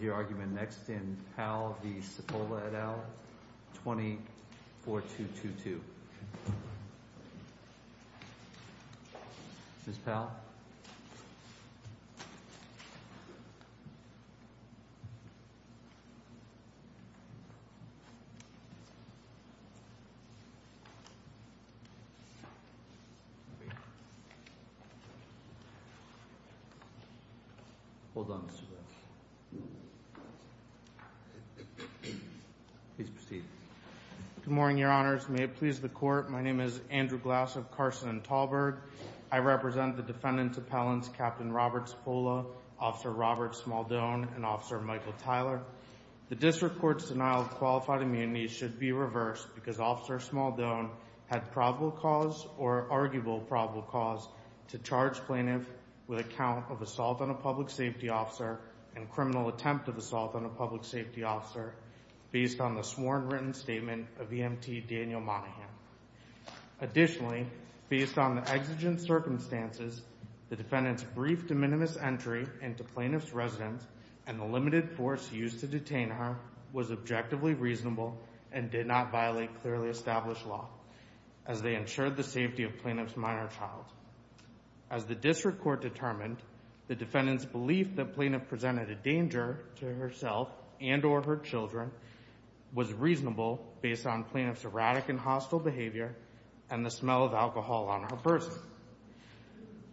et al, 20-4222. Ms. Powell? Hold on just a minute. Please proceed. Good morning, Your Honors. May it please the Court, my name is Andrew Glass of Carson and Tallberg. I represent the defendant's appellants, Captain Robert Cipolla, Officer Robert Smaldone, and Officer Michael Tyler. The District Court's denial of qualified immunity should be reversed because Officer Smaldone had probable cause or arguable probable cause to charge plaintiff with a count of assault on a public safety officer and criminal attempt of assault on a public safety officer based on the sworn written statement of EMT Daniel Monahan. Additionally, based on the exigent circumstances, the defendant's brief de minimis entry into plaintiff's residence and the limited force used to detain her was objectively reasonable and did not violate clearly established law as they ensured the safety of plaintiff's minor child. As the District Court determined, the defendant's belief that plaintiff presented a danger to herself and or her children was reasonable based on plaintiff's erratic and hostile behavior and the smell of alcohol on her person.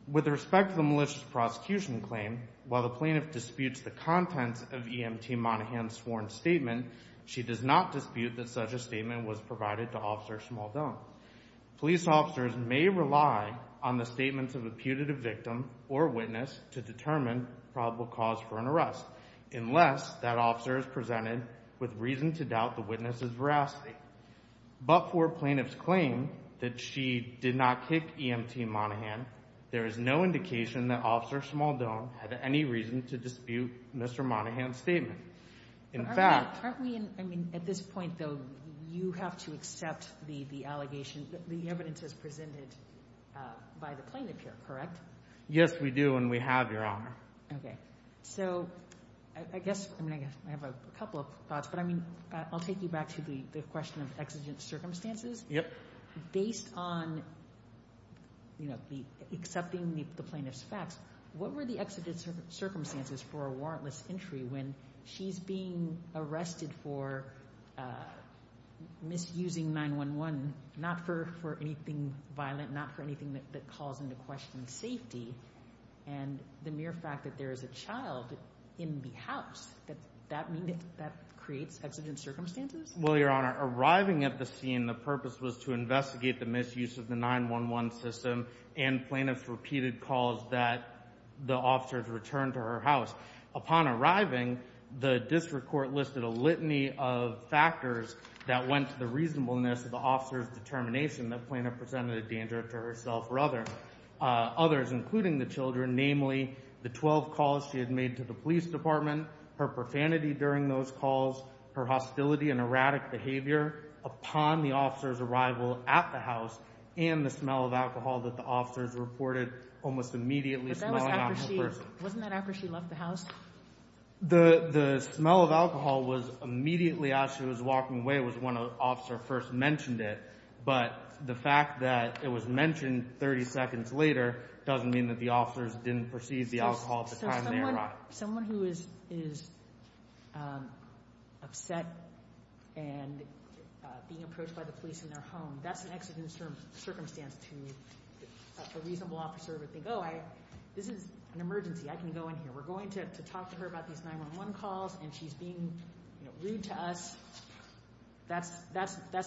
With respect to the malicious prosecution claim, while the plaintiff disputes the contents of EMT Monahan's sworn statement, she does not dispute that such a statement was provided to Officer Smaldone. Police officers may rely on the statements of a putative victim or witness to determine probable cause for an arrest unless that officer is presented with reason to doubt the witness's veracity. But for plaintiff's claim that she did not kick EMT Monahan, there is no indication that Officer Smaldone had any reason to dispute Mr. Monahan's statement. In fact — Aren't we in — I mean, at this point, though, you have to accept the allegation — the evidence as presented by the plaintiff here, correct? Yes, we do, and we have, Your Honor. Okay. So I guess — I mean, I have a couple of thoughts, but I mean, I'll take you back to the question of exigent circumstances. Yep. Based on, you know, accepting the plaintiff's facts, what were the exigent circumstances for a warrantless entry when she's being arrested for misusing 911, not for anything violent, not for anything that calls into question safety? And the mere fact that there is a child in the house, does that mean that that creates exigent circumstances? Well, Your Honor, arriving at the scene, the purpose was to investigate the misuse of the 911 system and plaintiff's repeated calls that the officers returned to her house. Upon arriving, the district court listed a litany of factors that went to the reasonableness of the officer's determination that plaintiff presented a danger to herself or others, including the children. Namely, the 12 calls she had made to the police department, her profanity during those calls, her hostility and erratic behavior upon the officer's arrival at the house, and the smell of alcohol that the officers reported almost immediately smelling on her person. But that was after she — wasn't that after she left the house? The smell of alcohol was immediately after she was walking away was when an officer first mentioned it. But the fact that it was mentioned 30 seconds later doesn't mean that the officers didn't perceive the alcohol at the time they arrived. So someone who is upset and being approached by the police in their home, that's an exigent circumstance to a reasonable officer to think, oh, this is an emergency. I can go in here. We're going to talk to her about these 911 calls, and she's being rude to us. That's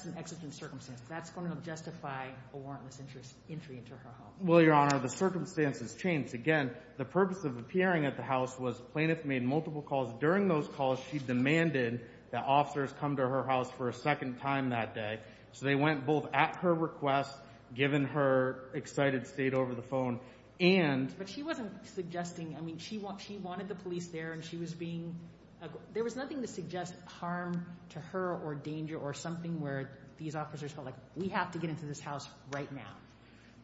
an exigent circumstance. That's going to justify a warrantless entry into her home. Well, Your Honor, the circumstances changed. Again, the purpose of appearing at the house was plaintiff made multiple calls. During those calls, she demanded that officers come to her house for a second time that day. So they went both at her request, given her excited state over the phone, and — I mean, she wanted the police there, and she was being — there was nothing to suggest harm to her or danger or something where these officers felt like, we have to get into this house right now.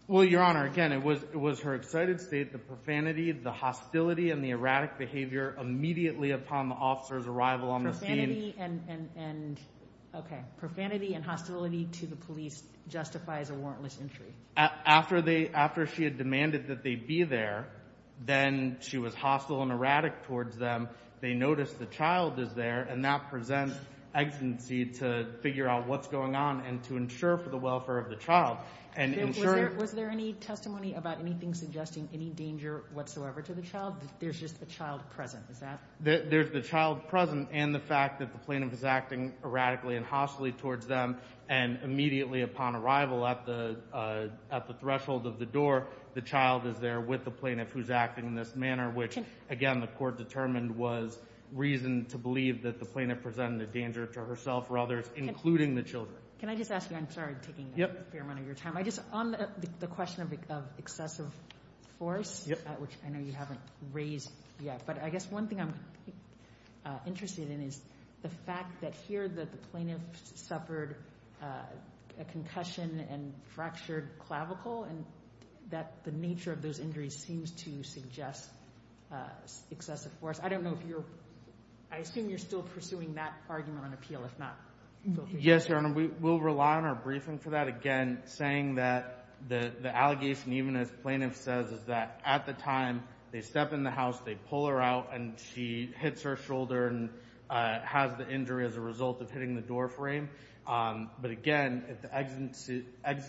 Well, Your Honor, again, it was her excited state, the profanity, the hostility, and the erratic behavior immediately upon the officer's arrival on the scene. Profanity and — okay. Profanity and hostility to the police justifies a warrantless entry. After they — after she had demanded that they be there, then she was hostile and erratic towards them. They noticed the child is there, and that presents exigency to figure out what's going on and to ensure for the welfare of the child and ensure — Was there any testimony about anything suggesting any danger whatsoever to the child? There's just the child present, is that — There's the child present and the fact that the plaintiff is acting erratically and hostilely towards them, and immediately upon arrival at the threshold of the door, the child is there with the plaintiff who's acting in this manner, which, again, the court determined was reason to believe that the plaintiff presented a danger to herself or others, including the children. Can I just ask you — I'm sorry I'm taking a fair amount of your time. I just — on the question of excessive force, which I know you haven't raised yet, but I guess one thing I'm interested in is the fact that here the plaintiff suffered a concussion and fractured clavicle and that the nature of those injuries seems to suggest excessive force. I don't know if you're — I assume you're still pursuing that argument on appeal, if not — Yes, Your Honor. We will rely on our briefing for that. Again, saying that the allegation, even as plaintiff says, is that at the time they step in the house, they pull her out and she hits her shoulder and has the injury as a result of hitting the door frame. But again, if the exits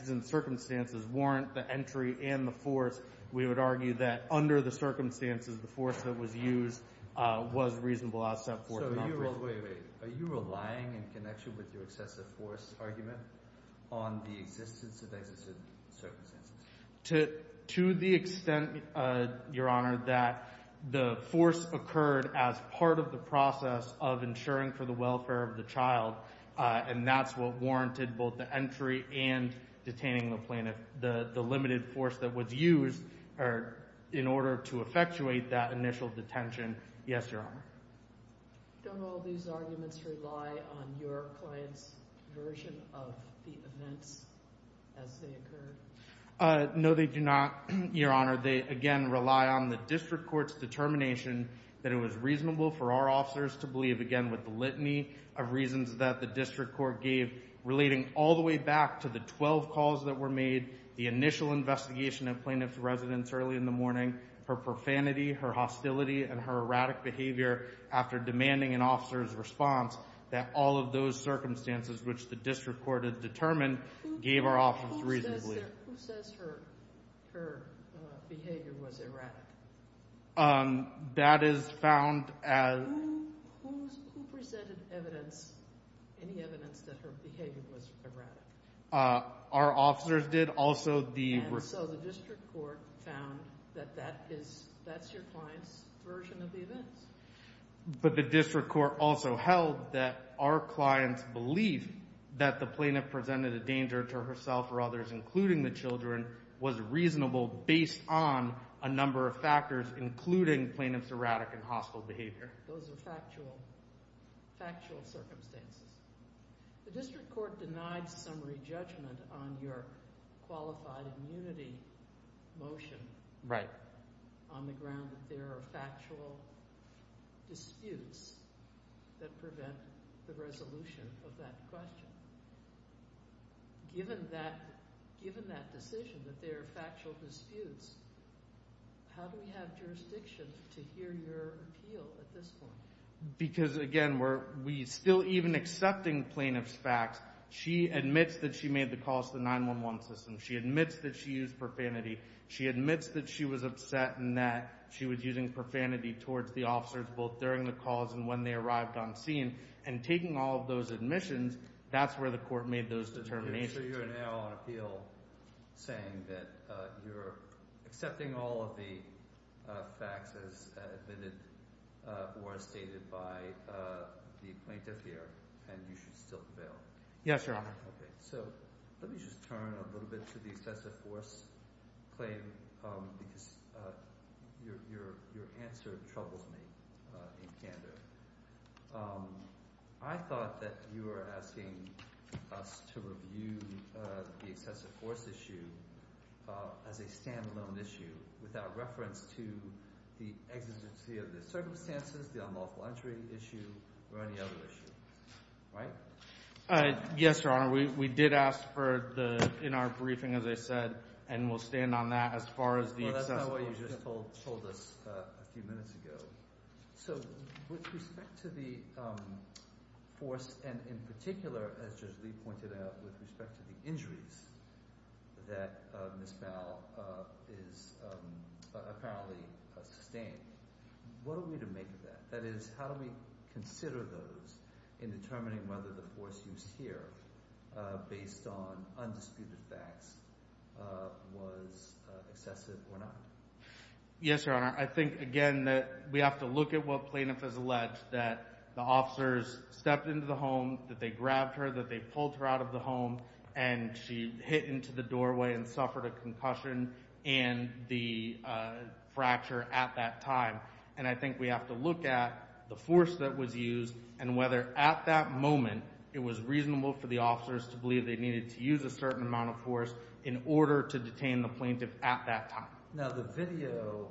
and circumstances warrant the entry and the force, we would argue that under the circumstances, the force that was used was reasonable outset force, not briefing. Wait, wait, wait. Are you relying in connection with your excessive force argument on the existence of exits and circumstances? To the extent, Your Honor, that the force occurred as part of the process of insuring for the welfare of the child, and that's what warranted both the entry and detaining the plaintiff, the limited force that was used in order to effectuate that initial detention. Yes, Your Honor. Don't all these arguments rely on your client's version of the events as they occurred? No, they do not, Your Honor. They, again, rely on the district court's determination that it was reasonable for our officers to believe, again, with the litany of reasons that the district court gave, relating all the way back to the 12 calls that were made, the initial investigation of plaintiff's residence early in the morning, her profanity, her hostility, and her erratic behavior after demanding an officer's response, that all of those circumstances which the district court had determined gave our officers reason to believe. Who says her behavior was erratic? That is found as— Who presented evidence, any evidence that her behavior was erratic? Our officers did. Also, the— And so the district court found that that's your client's version of the events. But the district court also held that our client's belief that the plaintiff presented a danger to herself or others, those are factual circumstances. The district court denied summary judgment on your qualified immunity motion. Right. On the ground that there are factual disputes that prevent the resolution of that question. Given that decision that there are factual disputes, how do we have jurisdiction to hear your appeal at this point? Because, again, we're still even accepting plaintiff's facts. She admits that she made the calls to the 911 system. She admits that she used profanity. She admits that she was upset and that she was using profanity towards the officers both during the calls and when they arrived on scene. And taking all of those admissions, that's where the court made those determinations. So you're now on appeal saying that you're accepting all of the facts as admitted or as stated by the plaintiff here and you should still prevail. Yes, Your Honor. Okay. So let me just turn a little bit to the excessive force claim because your answer troubles me in candor. I thought that you were asking us to review the excessive force issue as a standalone issue without reference to the exigency of the circumstances, the unlawful entry issue, or any other issue, right? Yes, Your Honor. We did ask for the – in our briefing, as I said, and we'll stand on that as far as the excessive force issue. Well, that's not what you just told us a few minutes ago. So with respect to the force and in particular, as Judge Lee pointed out, with respect to the injuries that Ms. Bowell is apparently sustained, what are we to make of that? And determining whether the force used here based on undisputed facts was excessive or not. Yes, Your Honor. I think, again, that we have to look at what plaintiff has alleged, that the officers stepped into the home, that they grabbed her, that they pulled her out of the home, and she hit into the doorway and suffered a concussion and the fracture at that time. And I think we have to look at the force that was used and whether at that moment it was reasonable for the officers to believe they needed to use a certain amount of force in order to detain the plaintiff at that time. Now, the video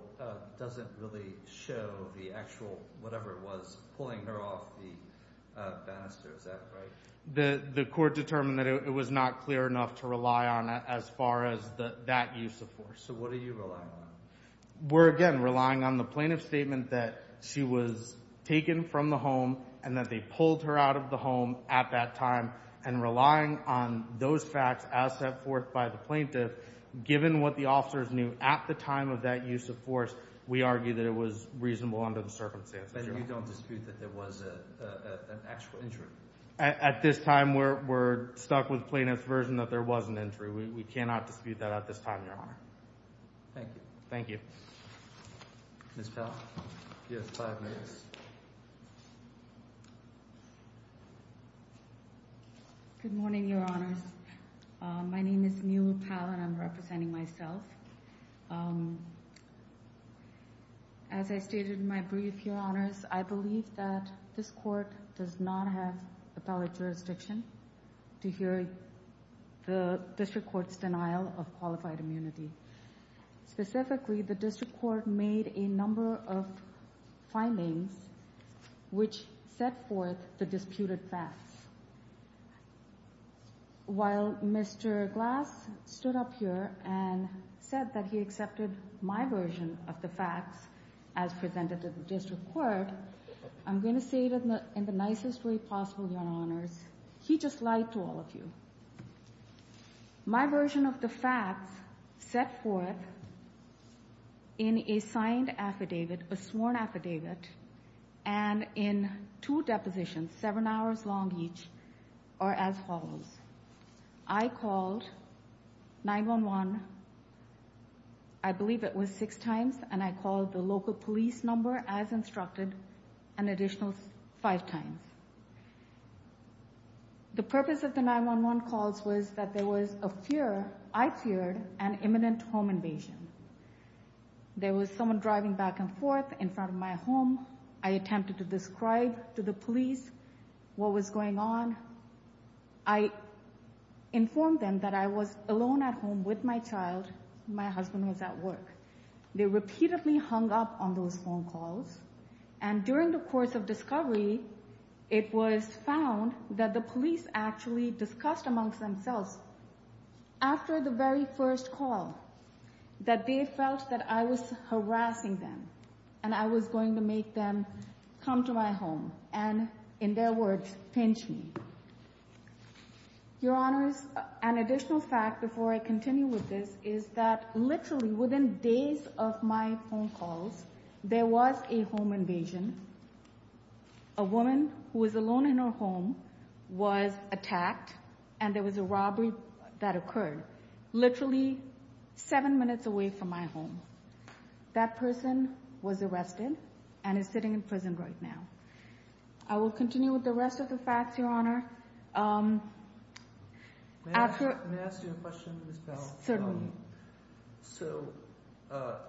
doesn't really show the actual – whatever it was – pulling her off the banister. Is that right? The court determined that it was not clear enough to rely on as far as that use of force. So what are you relying on? We're, again, relying on the plaintiff's statement that she was taken from the home and that they pulled her out of the home at that time and relying on those facts as set forth by the plaintiff, given what the officers knew at the time of that use of force, we argue that it was reasonable under the circumstances, Your Honor. And you don't dispute that there was an actual injury? At this time, we're stuck with plaintiff's version that there was an injury. We cannot dispute that at this time, Your Honor. Thank you. Thank you. Ms. Powell, you have five minutes. Good morning, Your Honors. My name is Newell Powell, and I'm representing myself. As I stated in my brief, Your Honors, I believe that this court does not have appellate jurisdiction to hear the district court's denial of qualified immunity. Specifically, the district court made a number of findings which set forth the disputed facts. While Mr. Glass stood up here and said that he accepted my version of the facts as presented to the district court, I'm going to say it in the nicest way possible, Your Honors. He just lied to all of you. My version of the facts set forth in a signed affidavit, a sworn affidavit, and in two depositions, seven hours long each, are as follows. I called 911, I believe it was six times, and I called the local police number as instructed an additional five times. The purpose of the 911 calls was that there was a fear, I feared, an imminent home invasion. There was someone driving back and forth in front of my home. I attempted to describe to the police what was going on. I informed them that I was alone at home with my child. My husband was at work. They repeatedly hung up on those phone calls. And during the course of discovery, it was found that the police actually discussed amongst themselves after the very first call that they felt that I was harassing them and I was going to make them come to my home and, in their words, pinch me. Your Honors, an additional fact before I continue with this is that literally within days of my phone calls, there was a home invasion. A woman who was alone in her home was attacked and there was a robbery that occurred literally seven minutes away from my home. That person was arrested and is sitting in prison right now. I will continue with the rest of the facts, Your Honor. May I ask you a question, Ms. Powell? Certainly. So,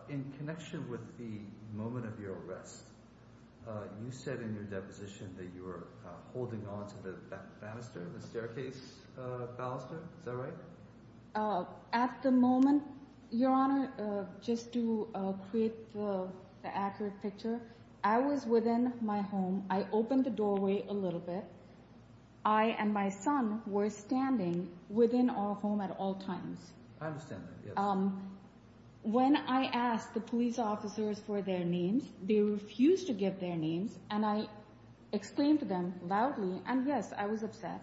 in connection with the moment of your arrest, you said in your deposition that you were holding on to the banister, the staircase banister. Is that right? At the moment, Your Honor, just to create the accurate picture, I was within my home. I opened the doorway a little bit. I and my son were standing within our home at all times. I understand that, yes. When I asked the police officers for their names, they refused to give their names, and I exclaimed to them loudly, and yes, I was upset.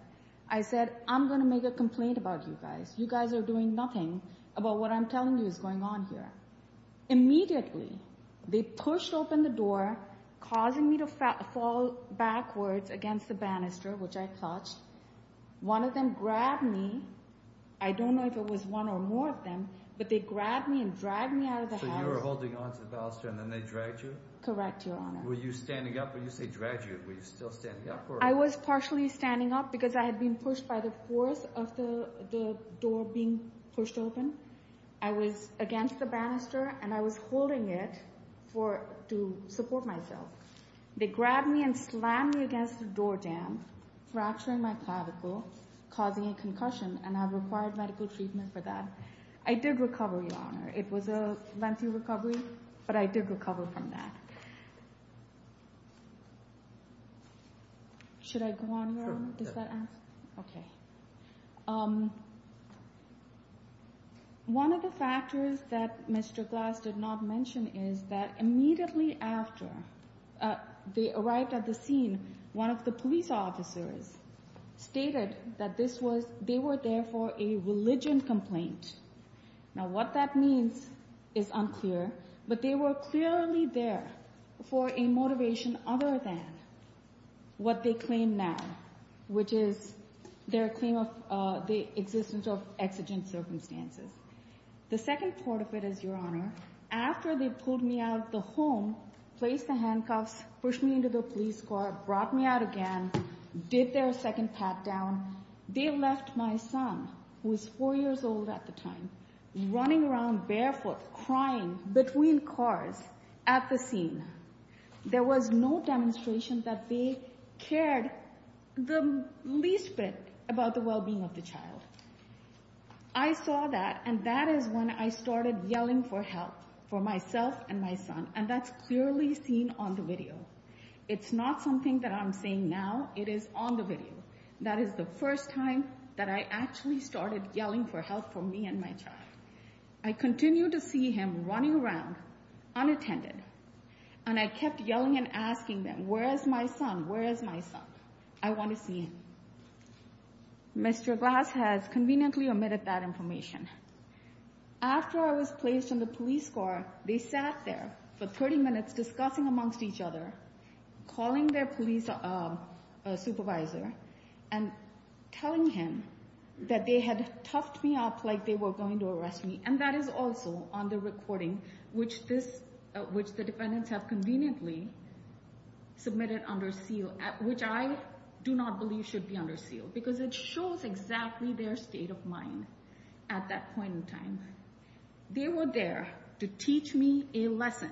I said, I'm going to make a complaint about you guys. You guys are doing nothing about what I'm telling you is going on here. Immediately, they pushed open the door, causing me to fall backwards against the banister, which I clutched. One of them grabbed me. I don't know if it was one or more of them, but they grabbed me and dragged me out of the house. So, you were holding on to the banister and then they dragged you? Correct, Your Honor. Were you standing up? When you say dragged you, were you still standing up? I was partially standing up because I had been pushed by the force of the door being pushed open. I was against the banister, and I was holding it to support myself. They grabbed me and slammed me against the door jamb, fracturing my clavicle, causing a concussion, and I required medical treatment for that. I did recover, Your Honor. It was a lengthy recovery, but I did recover from that. Should I go on, Your Honor? Sure. Does that answer? Okay. One of the factors that Mr. Glass did not mention is that immediately after they arrived at the scene, one of the police officers stated that they were there for a religion complaint. Now, what that means is unclear, but they were clearly there for a motivation other than what they claim now, which is their claim of the existence of exigent circumstances. The second part of it is, Your Honor, after they pulled me out of the home, placed the handcuffs, pushed me into the police car, brought me out again, did their second pat down, they left my son, who was four years old at the time, running around barefoot, crying between cars at the scene. There was no demonstration that they cared the least bit about the well-being of the child. I saw that, and that is when I started yelling for help for myself and my son, and that's clearly seen on the video. It's not something that I'm saying now. It is on the video. That is the first time that I actually started yelling for help for me and my child. I continued to see him running around unattended, and I kept yelling and asking them, where is my son? Where is my son? I want to see him. Mr. Glass has conveniently omitted that information. After I was placed in the police car, they sat there for 30 minutes discussing amongst each other, calling their police supervisor and telling him that they had toughed me up like they were going to arrest me, and that is also on the recording, which the defendants have conveniently submitted under seal, which I do not believe should be under seal because it shows exactly their state of mind at that point in time. They were there to teach me a lesson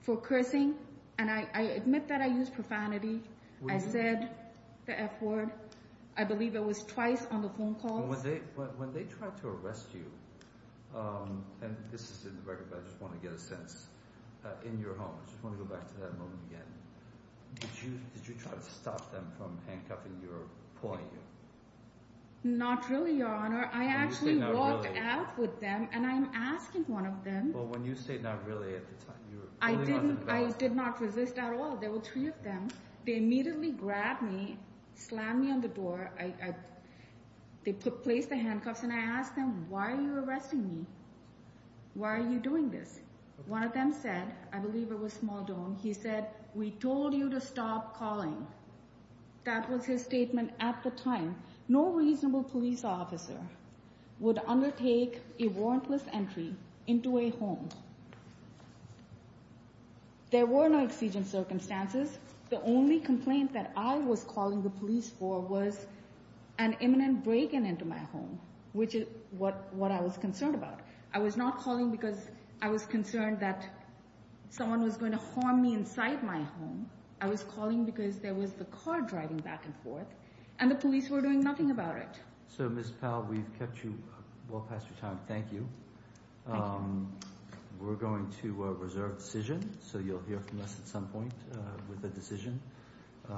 for cursing, and I admit that I used profanity. I said the F word. I believe it was twice on the phone call. When they tried to arrest you, and this is in the record, but I just want to get a sense, in your home. I just want to go back to that moment again. Did you try to stop them from handcuffing your pony? Not really, Your Honor. You say not really. I actually walked out with them, and I'm asking one of them. Well, when you say not really at the time, you were really not in a bad state. I did not resist at all. There were three of them. They immediately grabbed me, slammed me on the door. They placed the handcuffs, and I asked them, why are you arresting me? Why are you doing this? One of them said, I believe it was Smaldone, he said, we told you to stop calling. That was his statement at the time. No reasonable police officer would undertake a warrantless entry into a home. There were no exigent circumstances. The only complaint that I was calling the police for was an imminent break-in into my home, which is what I was concerned about. I was not calling because I was concerned that someone was going to harm me inside my home. I was calling because there was a car driving back and forth, and the police were doing nothing about it. So, Ms. Powell, we've kept you well past your time. Thank you. Thank you. We're going to reserve decision, so you'll hear from us at some point with the decision.